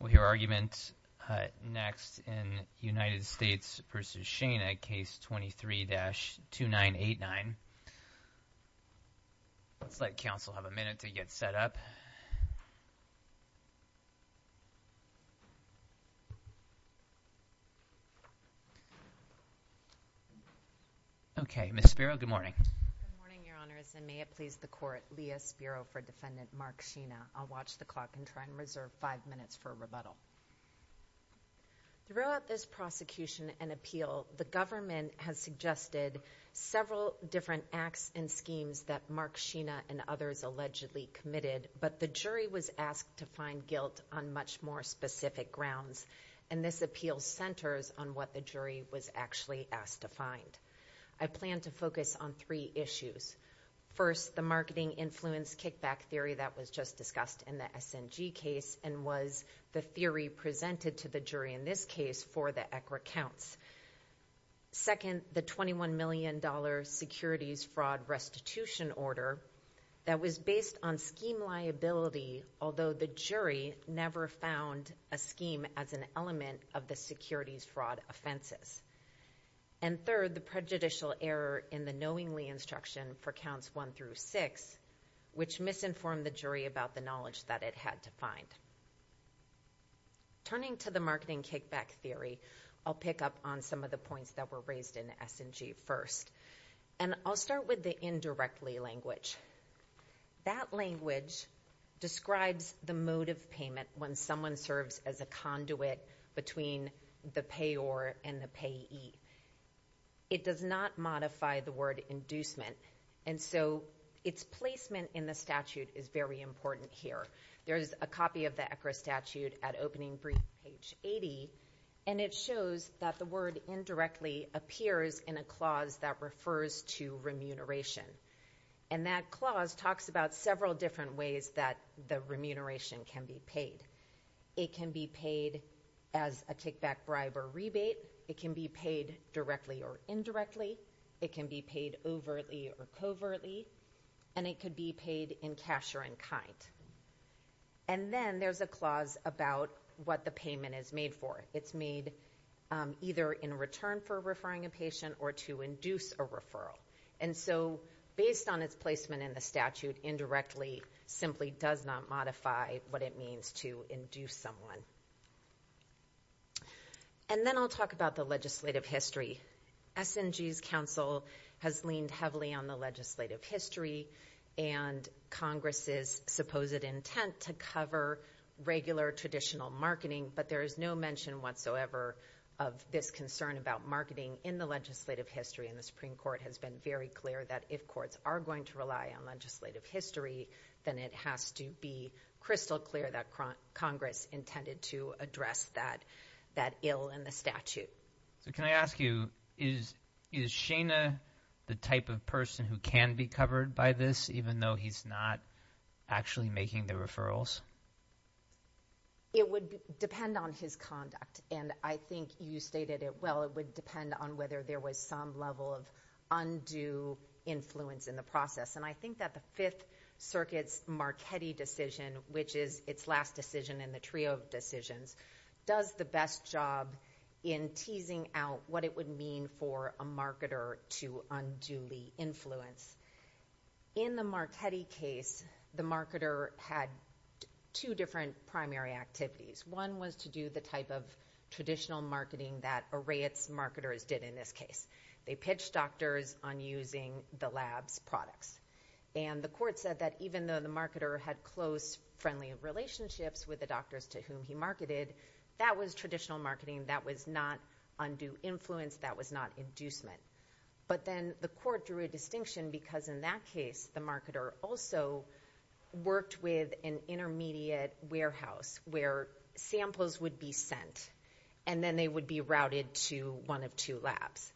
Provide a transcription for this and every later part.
With your argument next in United States v. Schena, Case 23-2989, let's let counsel have a minute to get set up. Okay, Ms. Spiro, good morning. Good morning, Your Honors, and may it please the Court, Leah Spiro for Defendant Mark Schena. I'll watch the clock and try and reserve five minutes for rebuttal. Throughout this prosecution and appeal, the government has suggested several different acts and schemes that Mark Schena and others allegedly committed, but the jury was asked to find guilt on much more specific grounds, and this appeal centers on what the jury was actually asked to find. I plan to focus on three issues. First, the marketing influence kickback theory that was just discussed in the SNG case and was the theory presented to the jury in this case for the ECRA counts. Second, the $21 million securities fraud restitution order that was based on scheme liability, although the jury never found a scheme as an element of the securities fraud offenses. And third, the prejudicial error in the knowingly instruction for counts one through six, which misinformed the jury about the knowledge that it had to find. Turning to the marketing kickback theory, I'll pick up on some of the points that were raised in the SNG first, and I'll start with the indirectly language. That language describes the mode of payment when someone serves as a conduit between the payor and the payee. It does not modify the word inducement, and so its placement in the statute is very important here. There is a copy of the ECRA statute at opening brief, page 80, and it shows that the word indirectly appears in a clause that refers to remuneration, and that clause talks about several different ways that the remuneration can be paid. It can be paid as a kickback bribe or rebate. It can be paid directly or indirectly. It can be paid overtly or covertly, and it could be paid in cash or in kind. And then there's a clause about what the payment is made for. It's made either in return for referring a patient or to induce a referral. And so based on its placement in the statute, indirectly simply does not modify what it means to induce someone. And then I'll talk about the legislative history. SNG's counsel has leaned heavily on the legislative history and Congress's supposed intent to cover regular traditional marketing, but there is no mention whatsoever of this concern about marketing in the legislative history, and the Supreme Court has been very clear that if courts are going to rely on legislative history, then it has to be crystal clear that Congress intended to address that ill in the statute. So can I ask you, is Shana the type of person who can be covered by this, even though he's not actually making the referrals? It would depend on his conduct, and I think you stated it well. It would depend on whether there was some level of undue influence in the process. And I think that the Fifth Circuit's Marchetti decision, which is its last decision in the trio of decisions, does the best job in teasing out what it would mean for a marketer to unduly influence. In the Marchetti case, the marketer had two different primary activities. One was to do the type of traditional marketing that Arayat's marketers did in this case. They pitched doctors on using the lab's products. And the court said that even though the marketer had close, friendly relationships with the doctors to whom he marketed, that was traditional marketing, that was not undue influence, that was not inducement. But then the court drew a distinction because in that case, the marketer also worked with an intermediate warehouse where samples would be sent, and then they would be routed to one of two labs.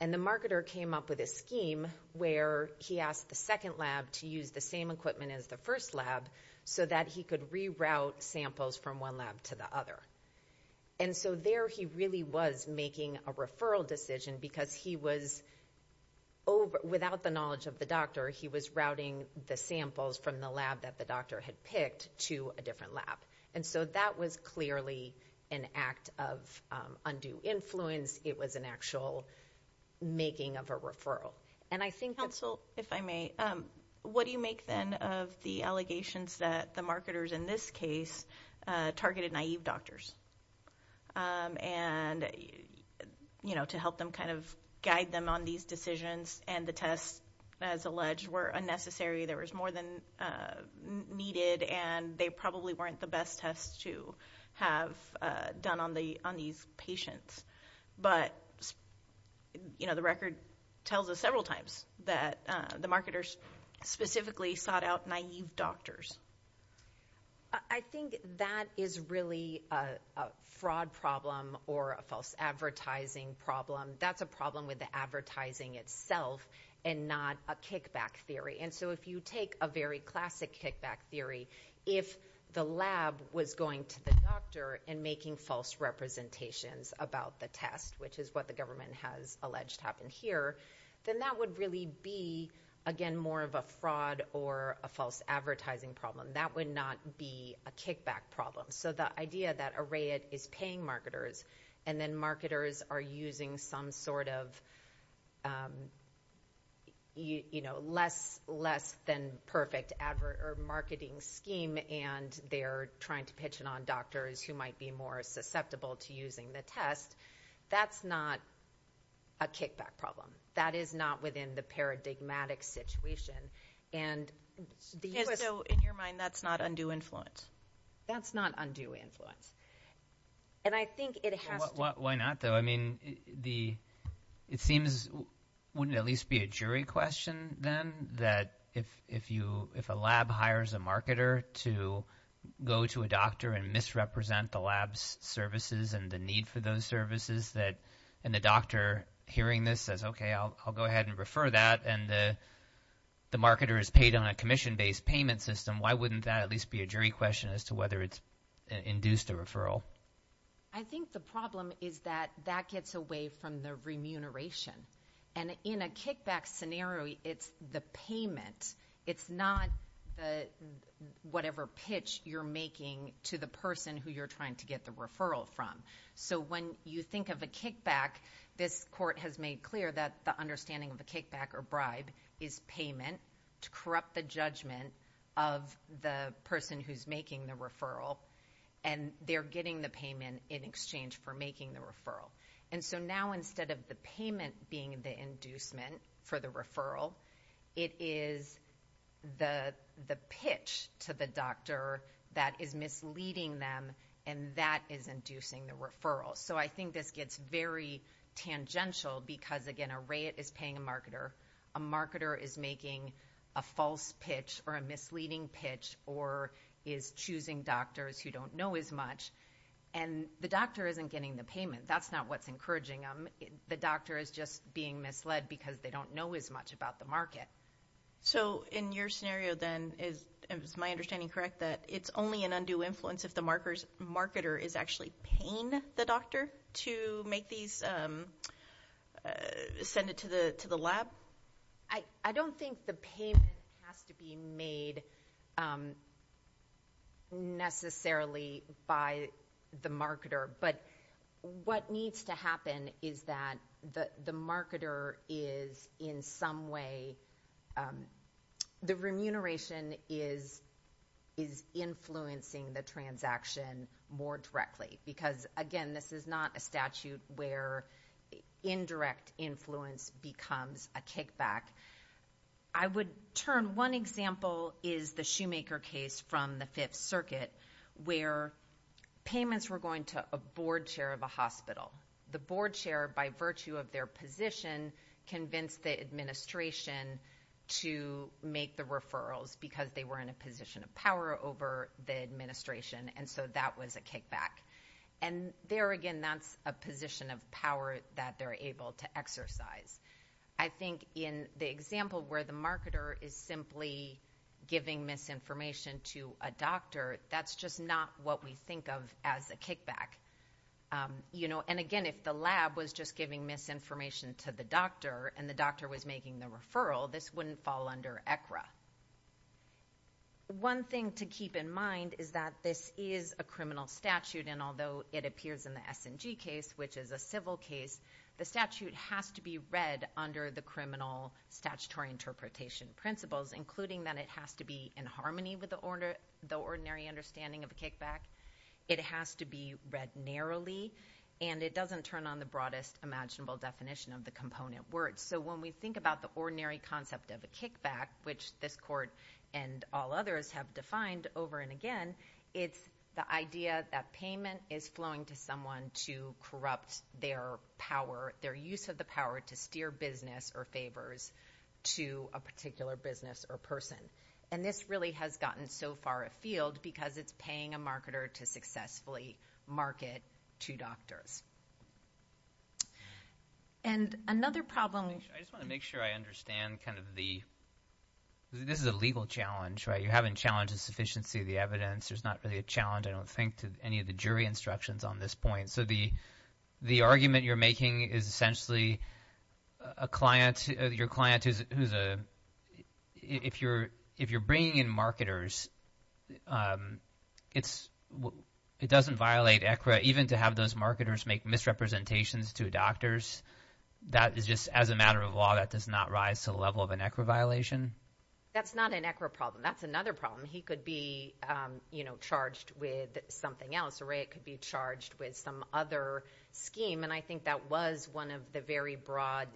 And the marketer came up with a scheme where he asked the second lab to use the same equipment as the first lab so that he could reroute samples from one lab to the other. And so there he really was making a referral decision because he was, without the knowledge of the doctor, he was routing the samples from the lab that the doctor had picked to a different lab. And so that was clearly an act of undue influence. It was an actual making of a referral. And I think that— Counsel, if I may, what do you make, then, of the allegations that the marketers in this case targeted naive doctors? And, you know, to help them kind of guide them on these decisions and the tests, as alleged, were unnecessary, there was more than needed, and they probably weren't the best tests to have done on these patients. But, you know, the record tells us several times that the marketers specifically sought out naive doctors. I think that is really a fraud problem or a false advertising problem. That's a problem with the advertising itself and not a kickback theory. And so if you take a very classic kickback theory, if the lab was going to the doctor and making false representations about the test, which is what the government has alleged happened here, then that would really be, again, more of a fraud or a false advertising problem. That would not be a kickback problem. So the idea that a RAID is paying marketers, and then marketers are using some sort of, you know, less than perfect marketing scheme, and they're trying to pitch it on doctors who might be more susceptible to using the test, that's not a kickback problem. That is not within the paradigmatic situation. And so in your mind, that's not undue influence? That's not undue influence. And I think it has to be. Why not, though? I mean, it seems, wouldn't it at least be a jury question then that if a lab hires a marketer to go to a doctor and misrepresent the lab's services and the need for those services, and the doctor hearing this says, okay, I'll go ahead and refer that, and the marketer is paid on a commission-based payment system, why wouldn't that at least be a jury question as to whether it's induced a referral? I think the problem is that that gets away from the remuneration. And in a kickback scenario, it's the payment. It's not the whatever pitch you're making to the person who you're trying to get the referral from. So when you think of a kickback, this court has made clear that the understanding of a kickback or bribe is payment to corrupt the judgment of the person who's making the referral, and they're getting the payment in exchange for making the referral. And so now instead of the payment being the inducement for the referral, it is the pitch to the doctor that is misleading them, and that is inducing the referral. So I think this gets very tangential because, again, a rate is paying a marketer. A marketer is making a false pitch or a misleading pitch or is choosing doctors who don't know as much. And the doctor isn't getting the payment. That's not what's encouraging them. The doctor is just being misled because they don't know as much about the market. So in your scenario then, is my understanding correct that it's only an undue influence if the marketer is actually paying the doctor to make these, send it to the lab? I don't think the payment has to be made necessarily by the marketer, but what needs to happen is that the marketer is in some way, the remuneration is influencing the transaction more directly. Because again, this is not a statute where indirect influence becomes a kickback. I would turn, one example is the Shoemaker case from the Fifth Circuit where payments were going to a board chair of a hospital. The board chair, by virtue of their position, convinced the administration to make the referrals because they were in a position of power over the administration, and so that was a kickback. And there again, that's a position of power that they're able to exercise. I think in the example where the marketer is simply giving misinformation to a doctor, that's just not what we think of as a kickback. And again, if the lab was just giving misinformation to the doctor and the doctor was making the referral, this wouldn't fall under ECRA. One thing to keep in mind is that this is a criminal statute, and although it appears in the S&G case, which is a civil case, the statute has to be read under the criminal statutory interpretation principles, including that it has to be in harmony with the ordinary understanding of a kickback. It has to be read narrowly, and it doesn't turn on the broadest imaginable definition of the component word. So when we think about the ordinary concept of a kickback, which this Court and all others have defined over and again, it's the idea that payment is flowing to someone to corrupt their power, their use of the power to steer business or favors to a particular business or person. And this really has gotten so far afield because it's paying a marketer to successfully market to doctors. And another problem— I just want to make sure I understand kind of the—this is a legal challenge, right? You haven't challenged the sufficiency of the evidence. There's not really a challenge, I don't think, to any of the jury instructions on this point. So the argument you're making is essentially a client—your client who's a—if you're bringing in marketers, it's—it doesn't violate ECRA, even to have those marketers make misrepresentations to doctors, that is just—as a matter of law, that does not rise to the level of an ECRA violation? That's not an ECRA problem. That's another problem. He could be, you know, charged with something else, or it could be charged with some other scheme, and I think that was one of the very broad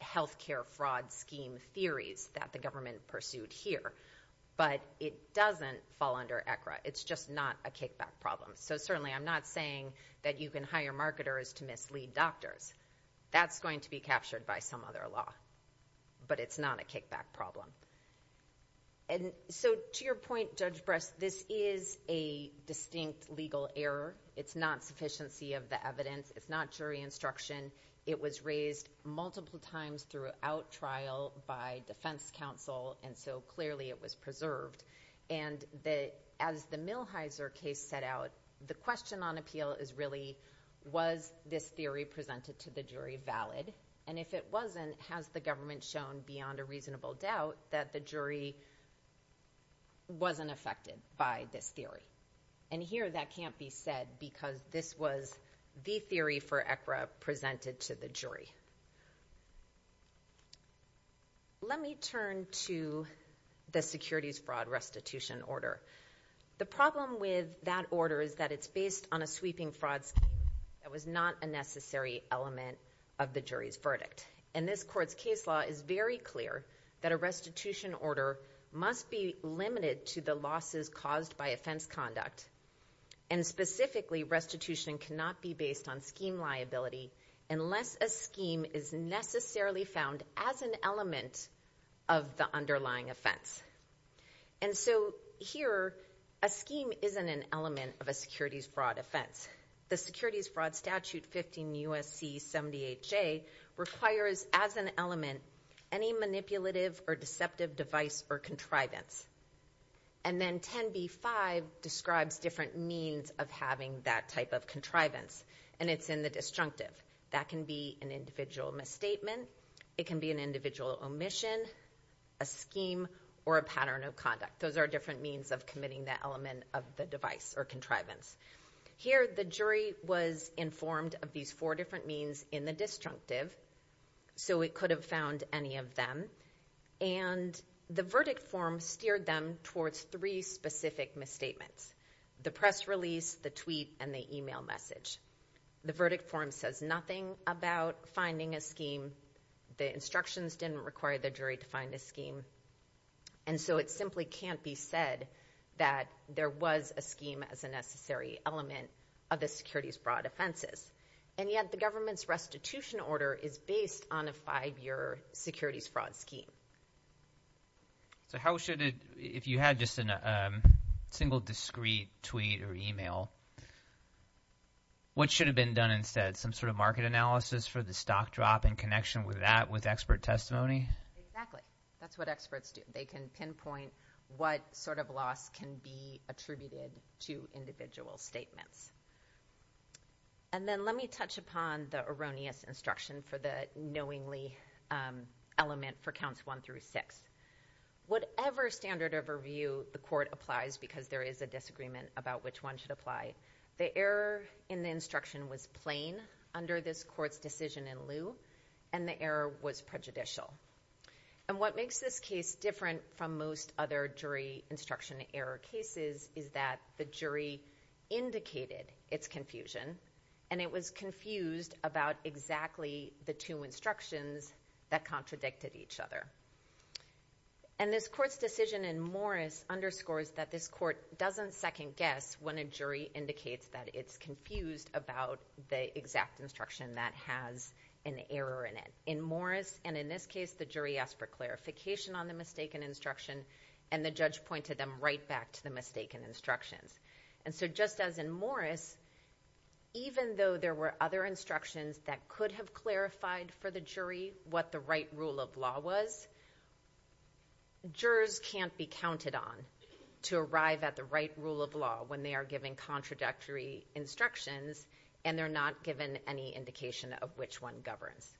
healthcare fraud scheme theories that the government pursued here. But it doesn't fall under ECRA. It's just not a kickback problem. So certainly I'm not saying that you can hire marketers to mislead doctors. That's going to be captured by some other law. But it's not a kickback problem. And so to your point, Judge Brest, this is a distinct legal error. It's not sufficiency of the evidence. It's not jury instruction. It was raised multiple times throughout trial by defense counsel, and so clearly it was preserved. And as the Millhiser case set out, the question on appeal is really, was this theory presented to the jury valid? And if it wasn't, has the government shown beyond a reasonable doubt that the jury wasn't affected by this theory? And here that can't be said because this was the theory for ECRA presented to the jury. Let me turn to the securities fraud restitution order. The problem with that order is that it's based on a sweeping fraud scheme that was not a necessary element of the jury's verdict. And this court's case law is very clear that a restitution order must be limited to the losses caused by offense conduct. And specifically, restitution cannot be based on scheme liability unless a scheme is necessarily found as an element of the underlying offense. And so here, a scheme isn't an element of a securities fraud offense. The Securities Fraud Order requires as an element any manipulative or deceptive device or contrivance. And then 10b-5 describes different means of having that type of contrivance, and it's in the disjunctive. That can be an individual misstatement. It can be an individual omission, a scheme, or a pattern of conduct. Those are different means of committing that element of the device or contrivance. Here, the jury was informed of these four different means in the disjunctive, so it could have found any of them. And the verdict form steered them towards three specific misstatements, the press release, the tweet, and the email message. The verdict form says nothing about finding a scheme. The instructions didn't require the jury to find a scheme. And so it simply can't be said that there was a scheme as a necessary element of the securities fraud offenses. And yet, the government's restitution order is based on a five-year securities fraud scheme. So how should it, if you had just a single discreet tweet or email, what should have been done instead? Some sort of market analysis for the stock drop in connection with that with expert testimony? Exactly. That's what experts do. They can pinpoint what sort of loss can be attributed to individual statements. And then let me touch upon the erroneous instruction for the knowingly element for counts one through six. Whatever standard of review the court applies because there is a disagreement about which one should apply, the error in the instruction was plain under this court's decision in lieu, and the error was prejudicial. And what makes this case different from most other jury instruction error cases is that the jury indicated its confusion, and it was confused about exactly the two instructions that contradicted each other. And this court's decision in Morris underscores that this court doesn't second guess when a jury indicates that it's confused about the exact instruction that has an error in it. In Morris, and in this case, the jury asked for clarification on the mistaken instruction, and the judge pointed them right back to the mistaken instructions. And so just as in Morris, even though there were other instructions that could have clarified for the jury what the right rule of law was, jurors can't be counted on to arrive at the right rule of law when they are given contradictory instructions and they're not given any indication of which one governs.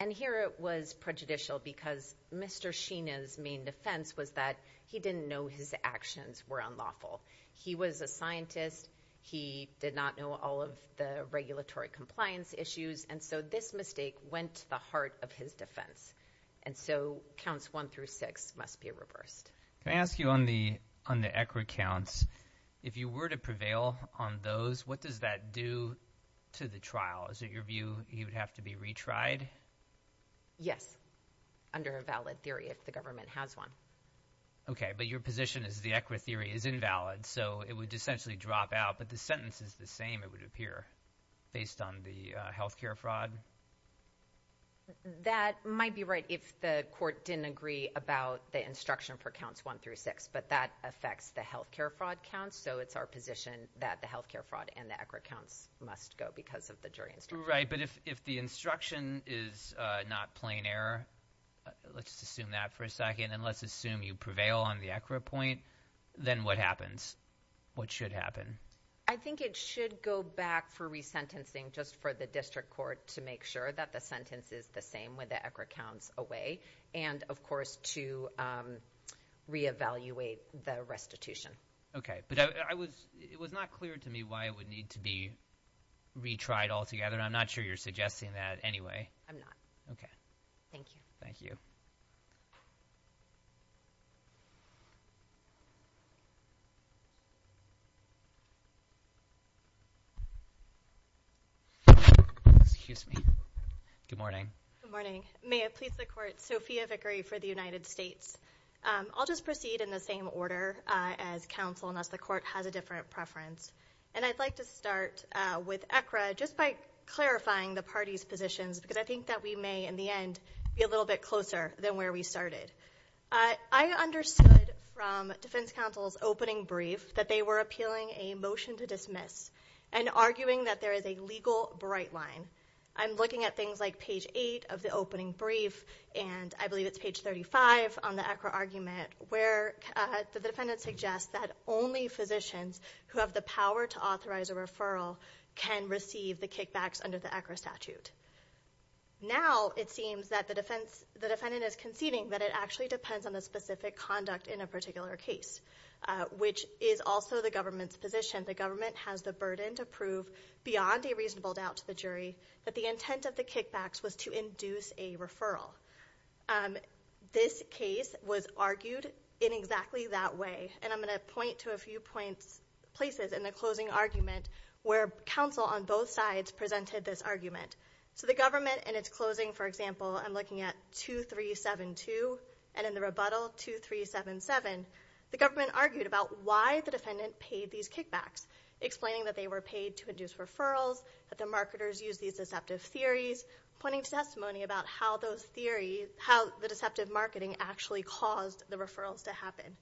And here it was prejudicial because Mr. Sheena's main defense was that he didn't know his actions were unlawful. He was a scientist. He did not know all of the regulatory compliance issues, and so this mistake went to the heart of his defense. And so counts one through six must be reversed. Can I ask you on the on the ECRA counts, if you were to prevail on those, what does that do to the trial? Is it your view he would have to be retried? Yes, under a valid theory if the government has one. Okay, but your position is the ECRA theory is invalid, so it would essentially drop out, but the sentence is the same, it would appear, based on the health care fraud. That might be right if the court didn't agree about the instruction for counts one through six, but that affects the health care fraud counts, so it's our position that the health care fraud and the ECRA counts must go because of the jury instruction. Right, but if the instruction is not plain error, let's just assume that for a second, and let's assume you prevail on the ECRA point, then what happens? What should happen? I think it should go back for resentencing just for the district court to make sure that the sentence is the same with the ECRA counts away, and of course to reevaluate the restitution. Okay, but it was not clear to me why it would need to be retried altogether, and I'm not sure you're suggesting that anyway. I'm not. Okay. Thank you. Thank you. Good morning. Good morning. May it please the court, Sophia Vickery for the United States. I'll just proceed in the same order as counsel unless the court has a different preference, and I'd like to start with ECRA just by clarifying the parties' positions because I think that we may in the end be a little bit closer than where we started. I understood from defense counsel's opening brief that they were appealing a motion to dismiss and arguing that there is a legal bright line. I'm looking at things like page 8 of the opening brief, and I believe it's page 35 on the ECRA argument, where the defendant suggests that only physicians who have the power to authorize a referral can receive the kickbacks under the ECRA statute. Now it seems that the defendant is conceding that it actually depends on the specific conduct in a particular case, which is also the government's position. The government has the burden to prove beyond a reasonable doubt to the jury that the intent of the kickbacks was to induce a referral. This case was argued in exactly that way, and I'm both sides presented this argument. So the government in its closing, for example, I'm looking at 2372, and in the rebuttal 2377, the government argued about why the defendant paid these kickbacks, explaining that they were paid to induce referrals, that the marketers use these deceptive theories, pointing to testimony about how those theories, how the deceptive marketing actually caused the referrals to happen.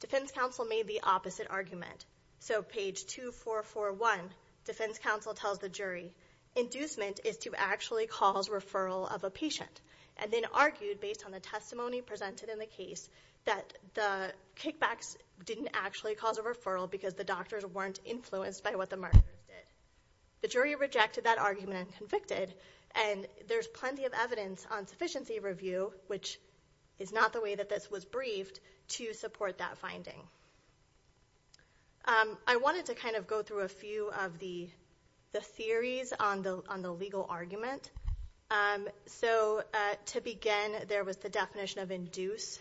Defense counsel made the opposite argument. So page 2441, defense counsel tells the jury, inducement is to actually cause referral of a patient, and then argued based on the testimony presented in the case that the kickbacks didn't actually cause a referral because the doctors weren't influenced by what the marketers did. The jury rejected that argument and convicted, and there's plenty of evidence on sufficiency review, which is not the way that this was briefed, to support that finding. I wanted to kind of go through a few of the theories on the legal argument. So to begin, there was the definition of induce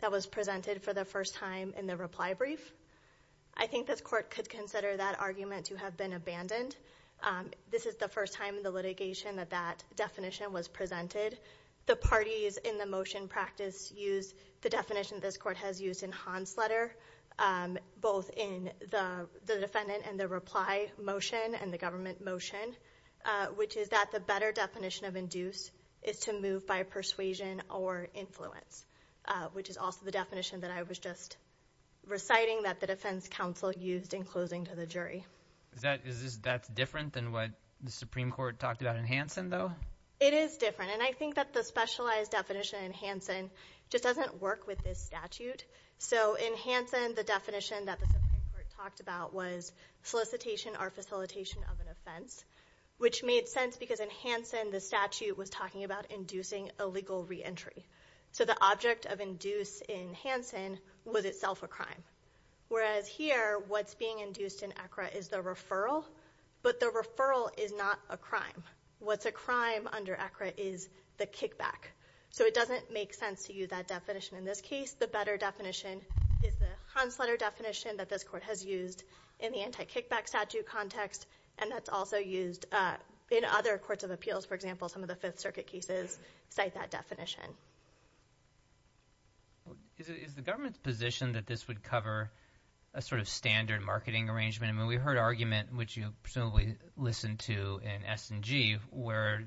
that was presented for the first time in the reply brief. I think this court could consider that argument to have been abandoned. This is the first time in the litigation that that definition was presented. The parties in the motion practice used the definition this court has used in Hansletter, both in the defendant and the reply motion and the government motion, which is that the better definition of induce is to move by persuasion or influence, which is also the definition that I was just reciting that the defense counsel used in closing to the jury. Is that different than what the Supreme Court talked about in Hansen though? It is different, and I think that the specialized definition in Hansen just doesn't work with this statute. So in Hansen, the definition that the Supreme Court talked about was solicitation or facilitation of an offense, which made sense because in Hansen the statute was talking about inducing a legal re-entry. So the object of induce in Hansen was itself a crime, whereas here what's being induced in ECRA is the referral, but the referral is not a crime. What's a crime under ECRA is the kickback. So it doesn't make sense to you that definition in this case. The better definition is the Hansletter definition that this court has used in the anti-kickback statute context, and that's also used in other courts of appeals. For example, some of the Fifth Circuit cases cite that definition. Is the government's position that this would cover a sort of standard marketing arrangement? We heard argument, which you presumably listened to in S&G, where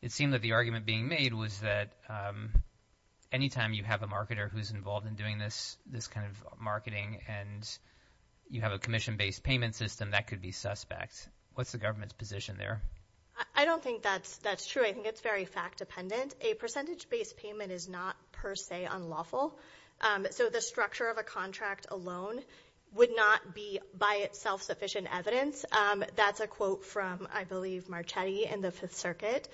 it seemed that the argument being made was that anytime you have a marketer who's involved in doing this kind of marketing and you have a commission-based payment system, that could be suspect. What's the government's position there? I don't think that's true. I think it's very fact-dependent. A percentage-based payment is not per se unlawful. So the structure of a contract alone would not be by itself sufficient evidence. That's a quote from, I believe, Marchetti in the Fifth Circuit.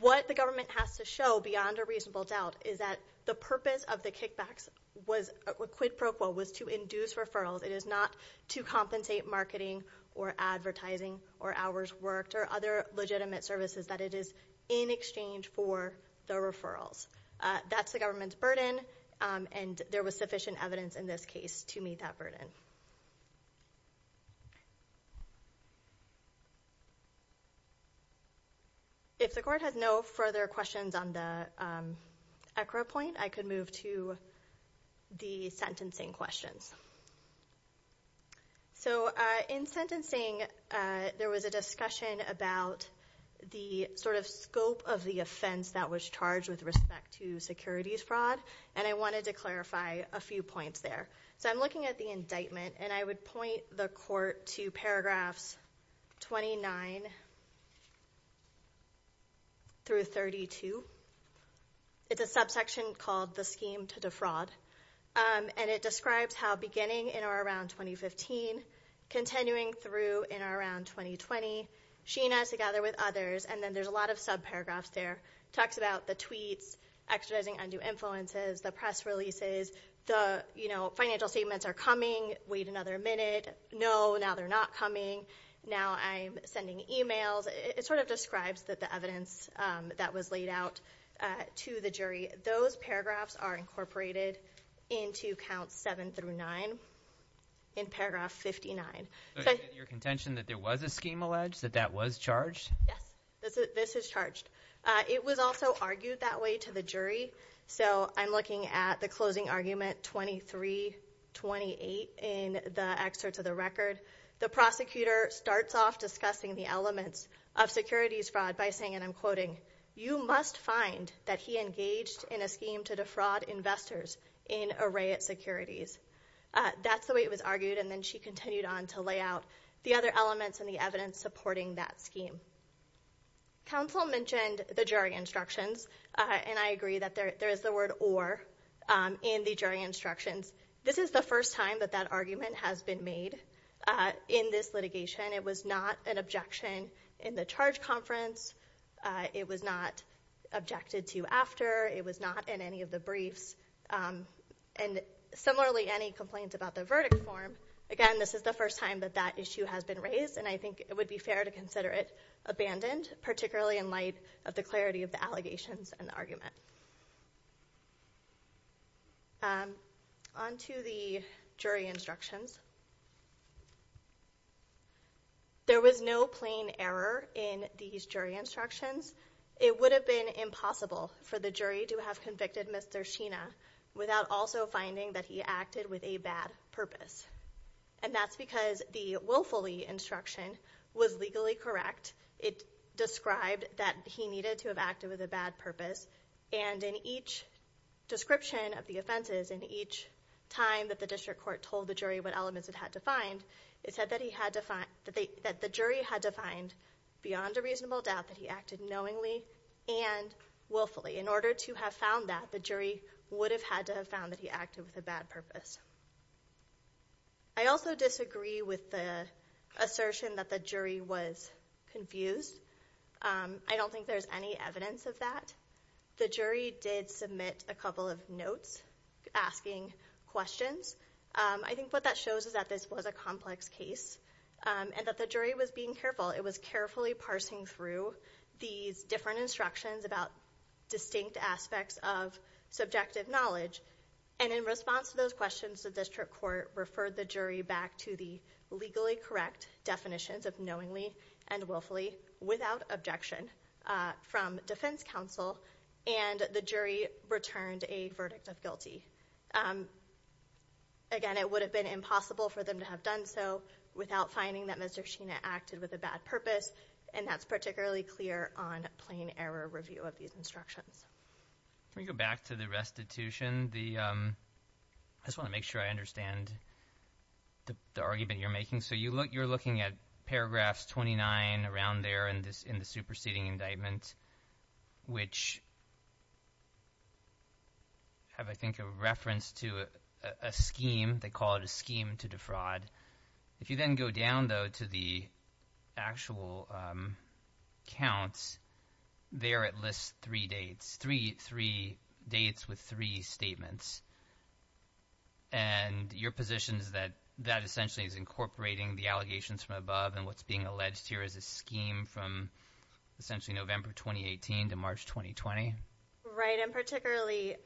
What the government has to show, beyond a reasonable doubt, is that the purpose of the kickbacks was, quid pro quo, was to induce referrals. It is not to compensate marketing or advertising or hours worked or other legitimate services, that it is in exchange for the referrals. That's the government's burden, and there was sufficient evidence in this case to meet that burden. If the court has no further questions on the ECRA point, I could move to the sentencing questions. In sentencing, there was a discussion about the scope of the offense that was charged with respect to securities fraud. I wanted to clarify a few points there. I'm looking at the indictment, and I would point the court to paragraphs 29 through 32. It's a subsection called The Scheme to Defraud, and it describes how beginning in or around 2015, continuing through in or around 2020, she and I, together with others, and then there's a lot of subparagraphs there, talks about the tweets, extraditing undue influences, the press releases, the, you know, financial statements are coming, wait another minute, no, now they're not coming, now I'm sending emails. It sort of describes the evidence that was laid out to the jury. Those paragraphs are incorporated into counts 7 through 9 in paragraph 59. So you're contention that there was a scheme alleged, that that was charged? Yes, this is charged. It was also argued that way to the jury, so I'm looking at the closing argument 23-28 in the excerpts of the record. The prosecutor starts off discussing the elements of securities fraud by saying, and I'm quoting, you must find that he engaged in a scheme to defraud investors in Arayat Securities. That's the way it was argued, and then she continued on to lay out the other elements and the evidence supporting that scheme. Counsel mentioned the jury instructions, and I agree that there is the word or in the jury instructions. This is the first time that that argument has been made in this litigation. It was not an objection in the charge conference. It was not objected to after. It was not in any of the briefs. And similarly, any complaints about the verdict form, again, this is the first time that that issue has been raised, and I think it would be fair to consider it abandoned, particularly in light of the clarity of the allegations and the argument. On to the jury instructions. There was no plain error in these jury instructions. It would have been impossible for the jury to have convicted Mr. Sheena without also finding that he acted with a bad purpose, and that's because the Willfully instruction was legally correct. It described that he needed to have acted with a bad purpose, and in each description of the offenses, in each time that the district court told the jury what elements it had to find, it said that the jury had to find beyond a reasonable doubt that he acted knowingly and willfully. In order to have found that, the jury would have had to have found that he acted with a bad purpose. I also disagree with the assertion that the jury was confused. I don't think there's any evidence of that. The jury did submit a couple of notes asking questions. I think what that shows is that this was a complex case, and that the jury was being careful. It was carefully parsing through these different instructions about distinct aspects of subjective knowledge, and in response to those questions, the district court referred the jury back to the legally correct definitions of knowingly and willfully, without objection, from defense counsel, and the jury returned a verdict of guilty. Again, it would have been impossible for them to have done so without finding that Mr. Sheena acted with a bad purpose, and that's particularly clear on plain error review of these instructions. Can we go back to the restitution? I just want to make sure I understand the argument you're making. So you're looking at paragraphs 29 around there in the superseding indictment, which have, I think, a reference to a scheme. They call it a scheme to defraud. If you then go down, though, to the actual counts, they are at least three dates, three dates with three statements. And your position is that that essentially is incorporating the allegations from above, and what's being alleged here is a scheme from essentially November 2018 to March 2020? Right, and particularly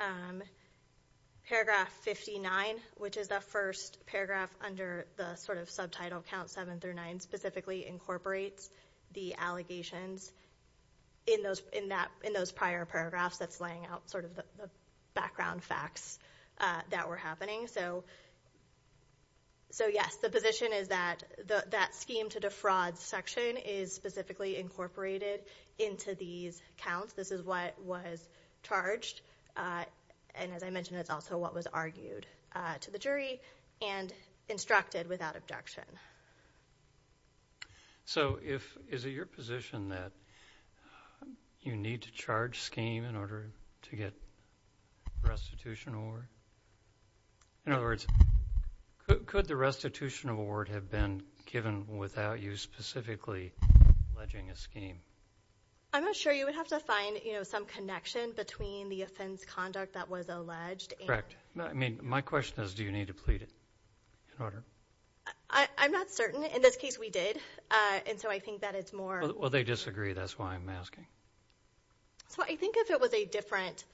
paragraph 59, which is the first paragraph under the sort of subtitle count seven through nine, specifically incorporates the allegations in those prior paragraphs that's laying out sort of the background facts that were happening. So yes, the position is that that scheme to defraud section is specifically incorporated into these counts. This is what was charged, and as I mentioned, it's also what was argued to the jury and instructed without objection. So is it your position that you need to charge scheme in order to get restitution award? In other words, could the restitution award have been given without you specifically alleging a scheme? I'm not sure. You would have to find, you know, some connection between the offense conduct that was alleged. Correct. I mean, my question is, do you need to plead it in order? I'm not certain. In this case, we did, and so I think that it's more... Well, they disagree. That's why I'm asking. So I think if it was a different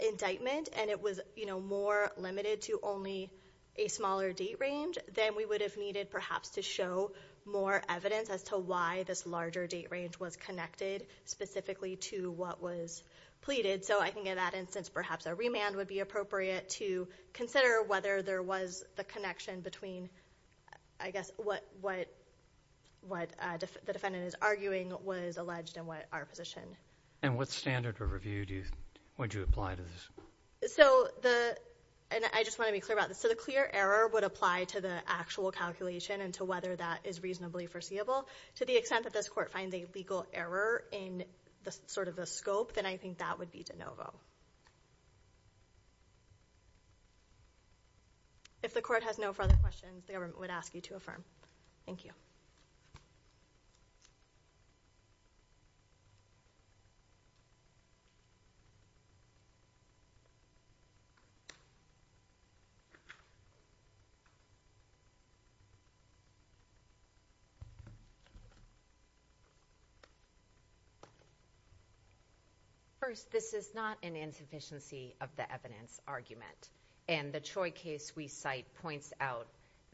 indictment and it was, you know, more limited to only a smaller date range, then we would have needed perhaps to show more evidence as to why this larger date range was connected specifically to what was pleaded. So I think in that instance, perhaps a remand would be appropriate to consider whether there was the connection between, I guess, what the defendant is arguing was alleged and what our position. And what standard or review would you apply to this? So the...and I just want to be clear about this. So the clear error would apply to the actual calculation and to whether that is reasonably foreseeable. To the extent that this court finds a legal error in sort of the scope, then I think that would be de novo. If the court has no further questions, the government would ask you to affirm. Thank you. First, this is not an insufficiency of the evidence argument. And the Troy case we cite points out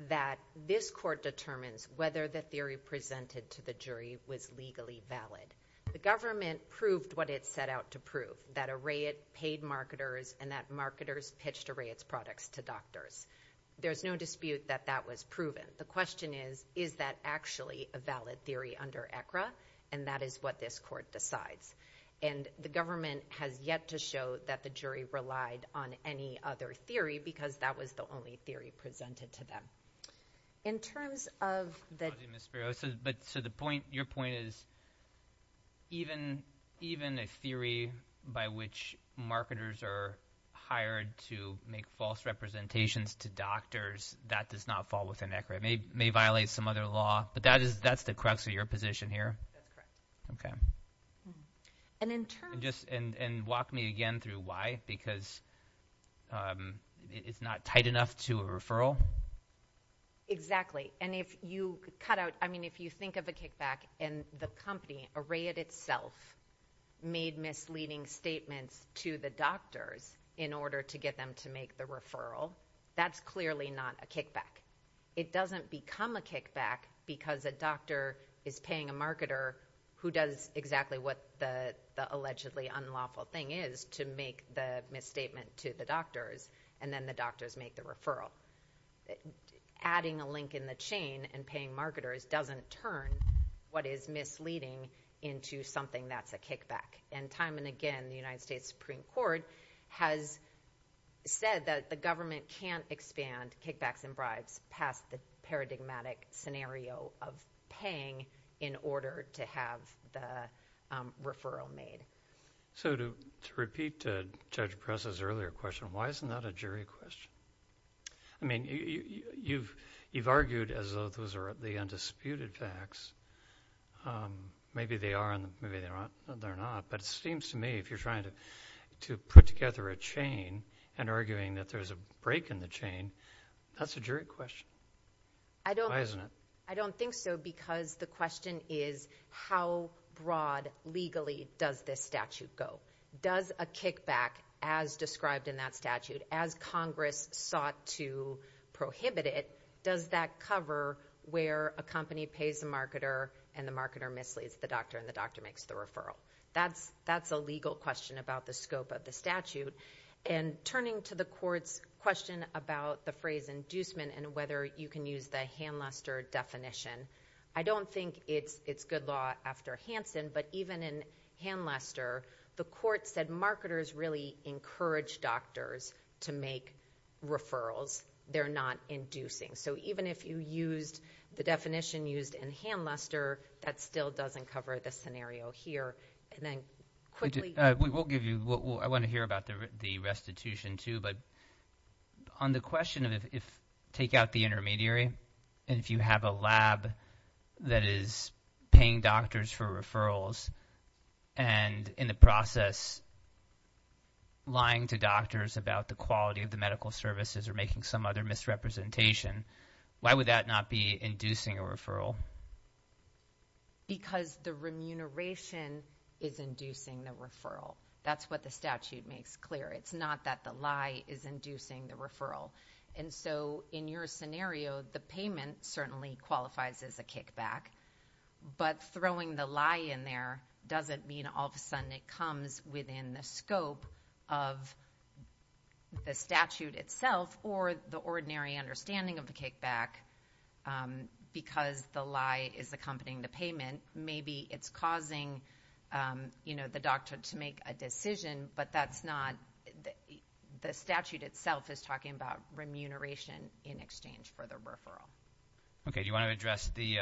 that this court determines whether the theory presented to the jury was legally valid. The government proved what it set out to prove, that a rate paid marketer is not eligible for a patent. And that marketers pitched a rate's products to doctors. There's no dispute that that was proven. The question is, is that actually a valid theory under ECRA? And that is what this court decides. And the government has yet to show that the jury relied on any other theory because that was the only theory presented to them. In terms of the... But to the point, your point is even a theory by which marketers are hired to make false representations to doctors, that does not fall within ECRA. It may violate some other law, but that's the crux of your position here? That's correct. Okay. And in terms... And walk me again through why, because it's not tight enough to a referral? Exactly. And if you cut out... I mean, if you think of a kickback and the company, Arrayed itself, made misleading statements to the doctors in order to get them to make the referral, that's clearly not a kickback. It doesn't become a kickback because a doctor is paying a marketer who does exactly what the allegedly unlawful thing is to make the misstatement to the doctors, and then the doctors make the referral. Adding a link in the chain and paying marketers doesn't turn what is misleading into something that's a kickback. And time and again, the United States Supreme Court has said that the government can't expand kickbacks and bribes past the paradigmatic scenario of paying in order to have the referral made. So to repeat Judge Pressa's earlier question, why isn't that a jury question? I mean, you've argued as though those are the undisputed facts. Maybe they are and maybe they're not, but it seems to me if you're trying to put together a chain and arguing that there's a break in the chain, that's a jury question. I don't... Why isn't it? I don't think so because the question is how broad legally does this statute go? Does a kickback as described in that statute, as Congress sought to prohibit it, does that cover where a company pays a marketer and the marketer misleads the doctor and the doctor makes the referral? That's a legal question about the scope of the statute. And turning to the court's question about the phrase inducement and whether you can use the Hanluster definition. I don't think it's good law after Hansen, but even in Hanluster, the court said marketers really encourage doctors to make referrals. They're not inducing. So even if you used the definition used in Hanluster, that still doesn't cover the scenario here. And then quickly... I want to hear about the restitution too, but on the question of if... Take out the intermediary and if you have a lab that is paying doctors for referrals and in the process lying to doctors about the quality of the medical services or making some other misrepresentation, why would that not be inducing a referral? Because the remuneration is inducing the referral. That's what the statute makes clear. It's not that the lie is inducing the referral. And so in your scenario, the payment certainly qualifies as a kickback. But throwing the lie in there doesn't mean all of a sudden it comes within the scope of the statute itself or the ordinary understanding of the kickback because the lie is accompanying the payment. Maybe it's causing the doctor to make a decision, but that's not... The statute itself is talking about remuneration in exchange for the referral. Okay. Do you want to address the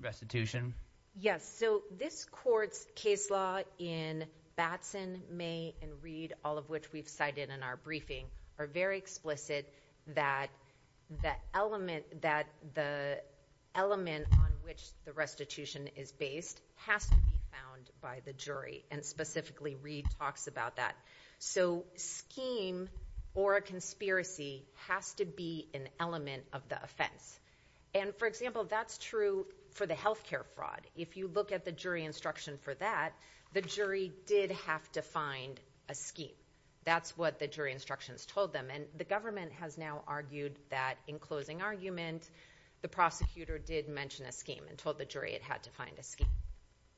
restitution? Yes. So this court's case law in Batson, May, and Reed, all of which we've cited in our briefing, are very explicit that the element on which the restitution is based has to be found by the jury. And specifically, Reed talks about that. So scheme or a conspiracy has to be an element of the offense. And for example, that's true for the healthcare fraud. If you look at the jury instruction for that, the jury did have to find a scheme. That's what the jury instructions told them. And the government has now argued that in closing argument, the prosecutor did mention a scheme and told the jury it had to find a scheme.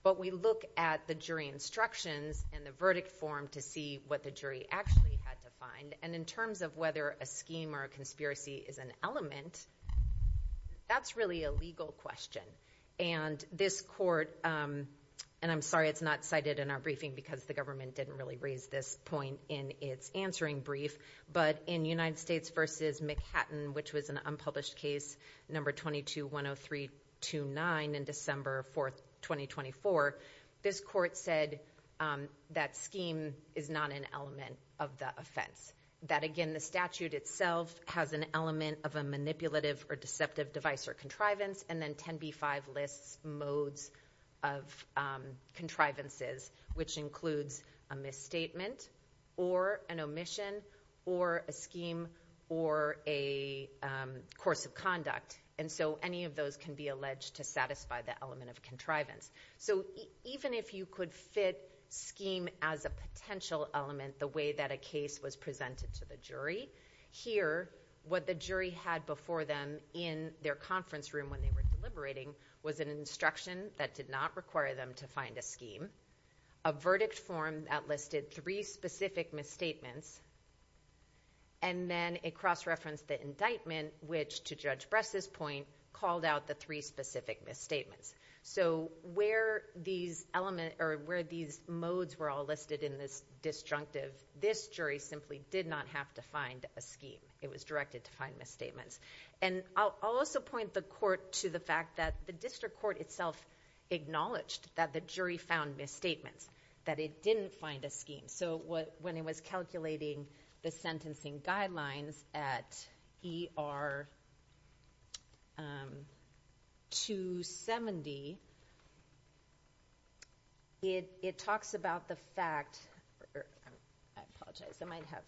But we look at the jury instructions and the verdict form to see what the jury actually had to find. And in terms of whether a scheme or a conspiracy is an element, that's really a legal question. And this court, and I'm sorry it's not cited in our briefing because the government didn't really raise this point in its answering brief. But in United States versus McHatton, which was an unpublished case, number 2210329 in December 4th, 2024, this court said that scheme is not an element of the offense. That again, the statute itself has an element of a manipulative or deceptive device or contrivance. And then 10b-5 lists modes of contrivances, which includes a misstatement or an omission. Or a scheme or a course of conduct. And so any of those can be alleged to satisfy the element of contrivance. So even if you could fit scheme as a potential element the way that a case was presented to the jury, here what the jury had before them in their conference room when they were deliberating was an instruction that did not require them to find a scheme. A verdict form that listed three specific misstatements. And then a cross-reference that indictment, which to Judge Bress's point, called out the three specific misstatements. So where these modes were all listed in this disjunctive, this jury simply did not have to find a scheme. It was directed to find misstatements. And I'll also point the court to the fact that the district court itself acknowledged that the jury found misstatements. That it didn't find a scheme. So when it was calculating the sentencing guidelines at ER 270, it talks about the fact... I apologize. I might have...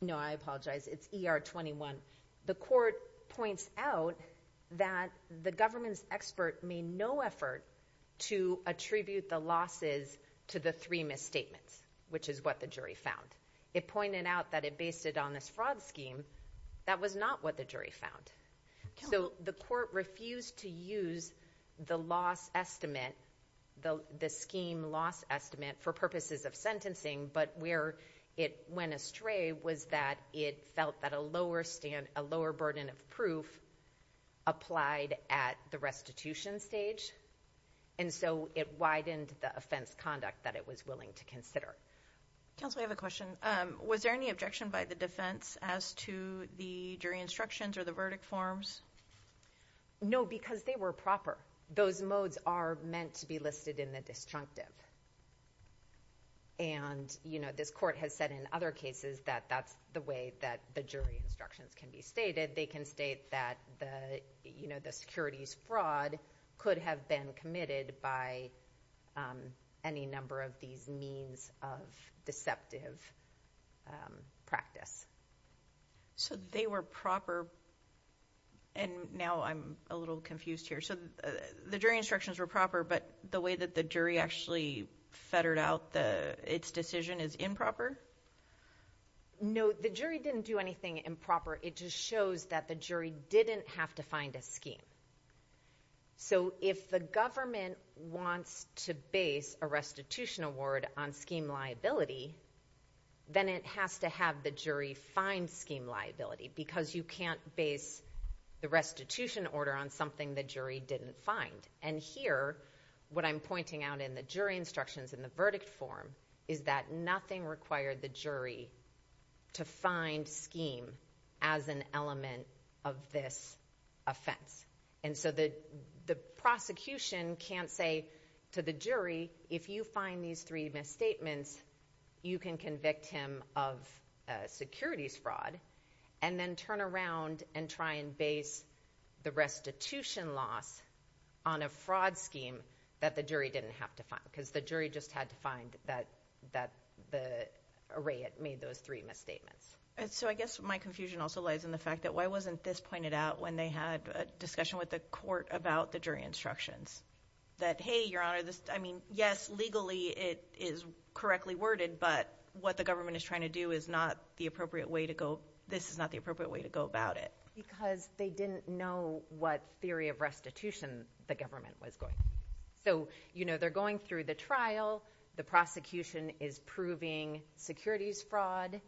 No, I apologize. It's ER 21. The court points out that the government's expert made no effort to attribute the losses to the three misstatements, which is what the jury found. It pointed out that it based it on this fraud scheme. That was not what the jury found. So the court refused to use the loss estimate, the scheme loss estimate, for purposes of sentencing. But where it went astray was that it felt that a lower burden of proof applied at the restitution stage. And so it widened the offense conduct that it was willing to consider. Counsel, I have a question. Was there any objection by the defense as to the jury instructions or the verdict forms? No, because they were proper. Those modes are meant to be listed in the disjunctive. And this court has said in other cases that that's the way that the jury instructions can be stated. They can state that the securities fraud could have been committed by any number of these means of deceptive practice. So they were proper, and now I'm a little confused here. So the jury instructions were proper, but the way that the jury actually fettered out its decision is improper? No, the jury didn't do anything improper. It just shows that the jury didn't have to find a scheme. So if the government wants to base a restitution award on scheme liability, then it has to have the jury find scheme liability, because you can't base the restitution order on something the jury didn't find. And here, what I'm pointing out in the jury instructions in the verdict form is that nothing required the jury to find scheme as an element of this offense. And so the prosecution can't say to the jury, if you find these three misstatements, you can convict him of securities fraud, and then turn around and try and base the restitution loss on a fraud scheme that the jury didn't have to find, because the jury just had to find the array that made those three misstatements. So I guess my confusion also lies in the fact that, why wasn't this pointed out when they had a discussion with the court about the jury instructions? That, hey, your honor, this, I mean, yes, legally it is correctly worded, but what the government is trying to do is not the appropriate way to go, this is not the appropriate way to go about it. Because they didn't know what theory of restitution the government was going with. So, you know, they're going through the trial, the prosecution is proving securities fraud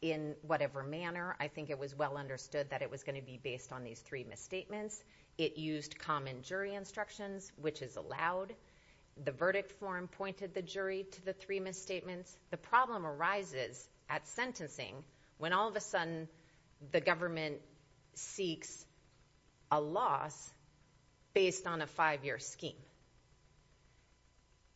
in whatever manner. I think it was well understood that it was going to be based on these three misstatements. It used common jury instructions, which is allowed. The verdict form pointed the jury to the three misstatements. The problem arises at sentencing, when all of a sudden, the government seeks a loss based on a five-year scheme.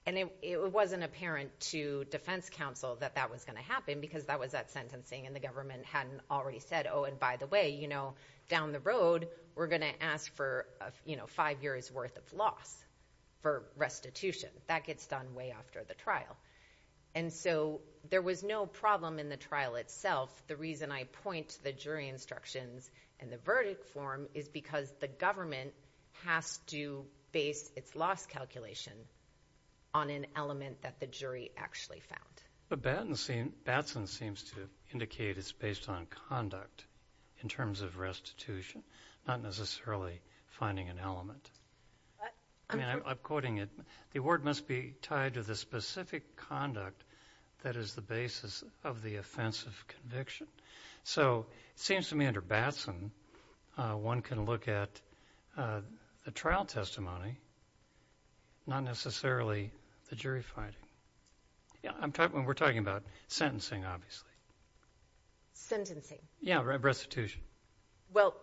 And it wasn't apparent to defense counsel that that was going to happen, because that was at sentencing, and the government hadn't already said, oh, and by the way, you know, down the road, we're going to ask for, you know, five years worth of loss for restitution. That gets done way after the trial. And so there was no problem in the trial itself. The reason I point to the jury instructions and the verdict form is because the government has to base its loss calculation on an element that the jury actually found. But Batson seems to indicate it's based on conduct in terms of restitution, not necessarily finding an element. I mean, I'm quoting it. The word must be tied to the specific conduct that is the basis of the offensive conviction. So it seems to me under Batson, one can look at a trial testimony, not necessarily the jury finding. Yeah, we're talking about sentencing, obviously. Sentencing. Yeah, restitution. Well,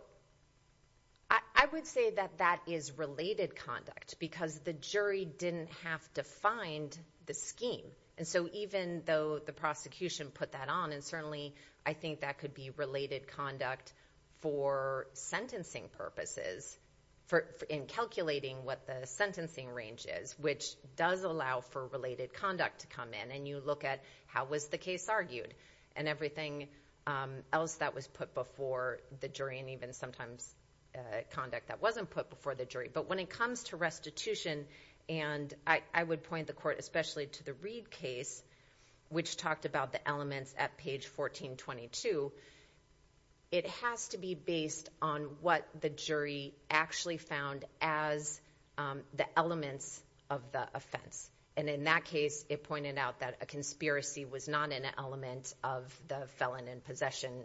I would say that that is related conduct, because the jury didn't have defined the scheme. And so even though the prosecution put that on, and certainly I think that could be related conduct for sentencing purposes, in calculating what the sentencing range is, which does allow for related conduct to come in, and you look at how was the case argued, and everything else that was put before the jury, and even sometimes conduct that wasn't put before the jury. But when it comes to restitution, and I would point the court especially to the Reed case, which talked about the elements at page 1422, it has to be based on what the jury actually found as the elements of the offense. And in that case, it pointed out that a conspiracy was not an element of the felon in possession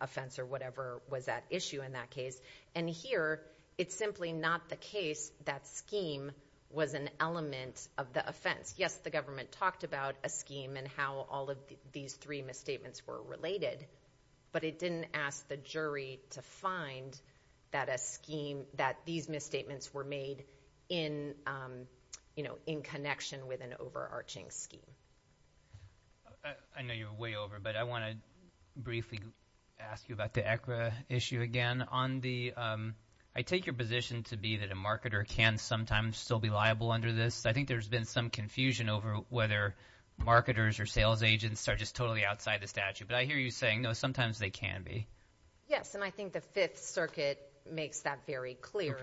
offense or whatever was at issue in that case. And here, it's simply not the case that scheme was an element of the offense. Yes, the government talked about a scheme and how all of these three misstatements were related, but it didn't ask the jury to find that a scheme, that these misstatements were made in connection with an overarching scheme. I know you're way over, but I want to briefly ask you about the ECRA issue again. I take your position to be that a marketer can sometimes still be liable under this. I think there's been some confusion over whether marketers or sales agents are just totally outside the statute. But I hear you saying, no, sometimes they can be. Yes, and I think the Fifth Circuit makes that very clear.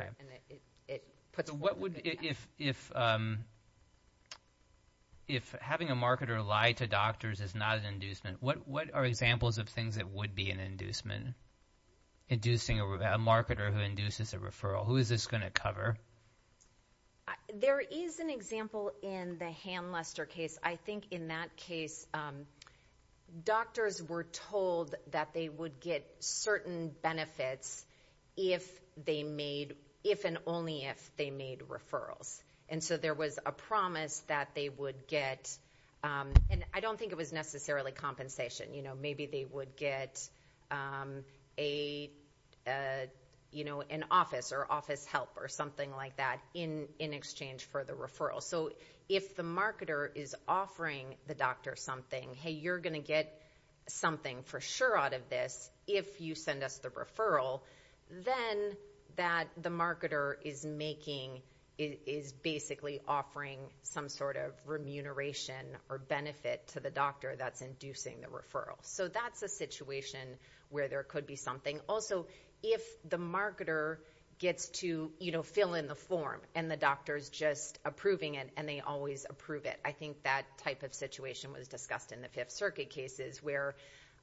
If having a marketer lie to doctors is not an inducement, what are examples of things that would be an inducement? Inducing a marketer who induces a referral. Who is this going to cover? There is an example in the Ham-Lester case. I think in that case doctors were told that they would get certain benefits if and only if they made referrals. There was a promise that they would get, and I don't think it was necessarily compensation. Maybe they would get an office or office help or something like that in exchange for the referral. If the marketer is offering the doctor something, hey, you're going to get something for sure out of this if you send us the referral, then the marketer is basically offering some sort of remuneration or benefit to the doctor that's inducing the referral. That's a situation where there could be something. Also, if the marketer gets to fill in the form and the doctor is just approving it and they always approve it. I think that type of situation was discussed in the Fifth Circuit cases where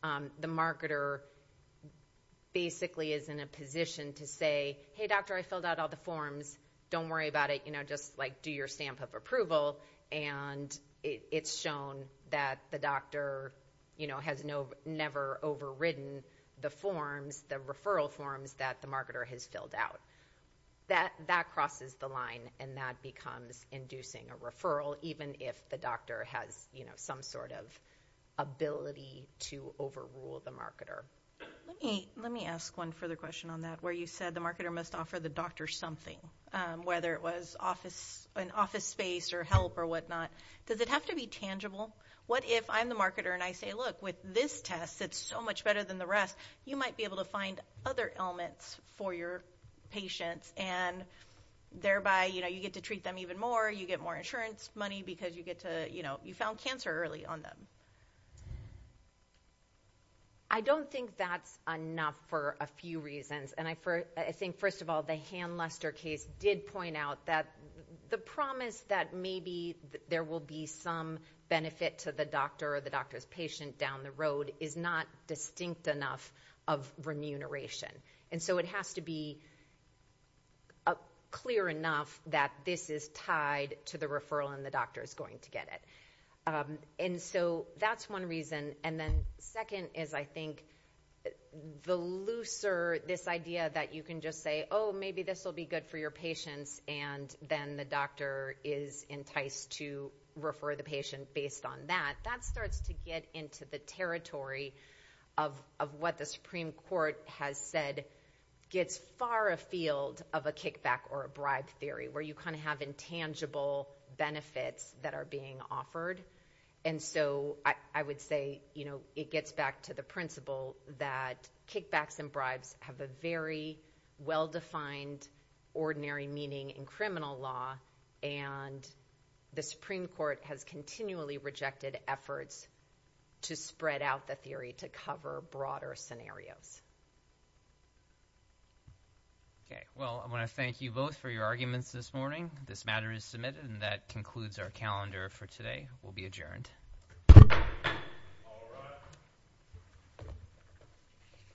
the marketer basically is in a position to say, hey, doctor, I filled out all the forms. Don't worry about it. Just do your stamp of approval, and it's shown that the doctor has never overridden the forms, the referral forms that the marketer has filled out. That crosses the line, and that becomes inducing a referral, even if the doctor has some sort of ability to overrule the marketer. Let me ask one further question on that, where you said the marketer must offer the doctor something, whether it was an office space or help or whatnot. Does it have to be tangible? What if I'm the marketer and I say, look, with this test, it's so much better than the rest. You might be able to find other ailments for your patients, and thereby you get to treat them even more, you get more insurance money because you found cancer early on them. I don't think that's enough for a few reasons. I think, first of all, the Han-Lester case did point out that the promise that maybe there will be some benefit to the doctor down the road is not distinct enough of remuneration. And so it has to be clear enough that this is tied to the referral and the doctor is going to get it. And so that's one reason. And then second is, I think, the looser this idea that you can just say, oh, maybe this will be good for your patients, and then the doctor is enticed to refer the patient based on that. That starts to get into the territory of what the Supreme Court has said gets far afield of a kickback or a bribe theory, where you kind of have intangible benefits that are being offered. And so I would say it gets back to the principle that kickbacks and bribes have a very well-defined ordinary meaning in criminal law, and the Supreme Court has continually rejected efforts to spread out the theory to cover broader scenarios. Okay. Well, I want to thank you both for your arguments this morning. This matter is submitted, and that concludes our calendar for today. We'll be adjourned. All rise.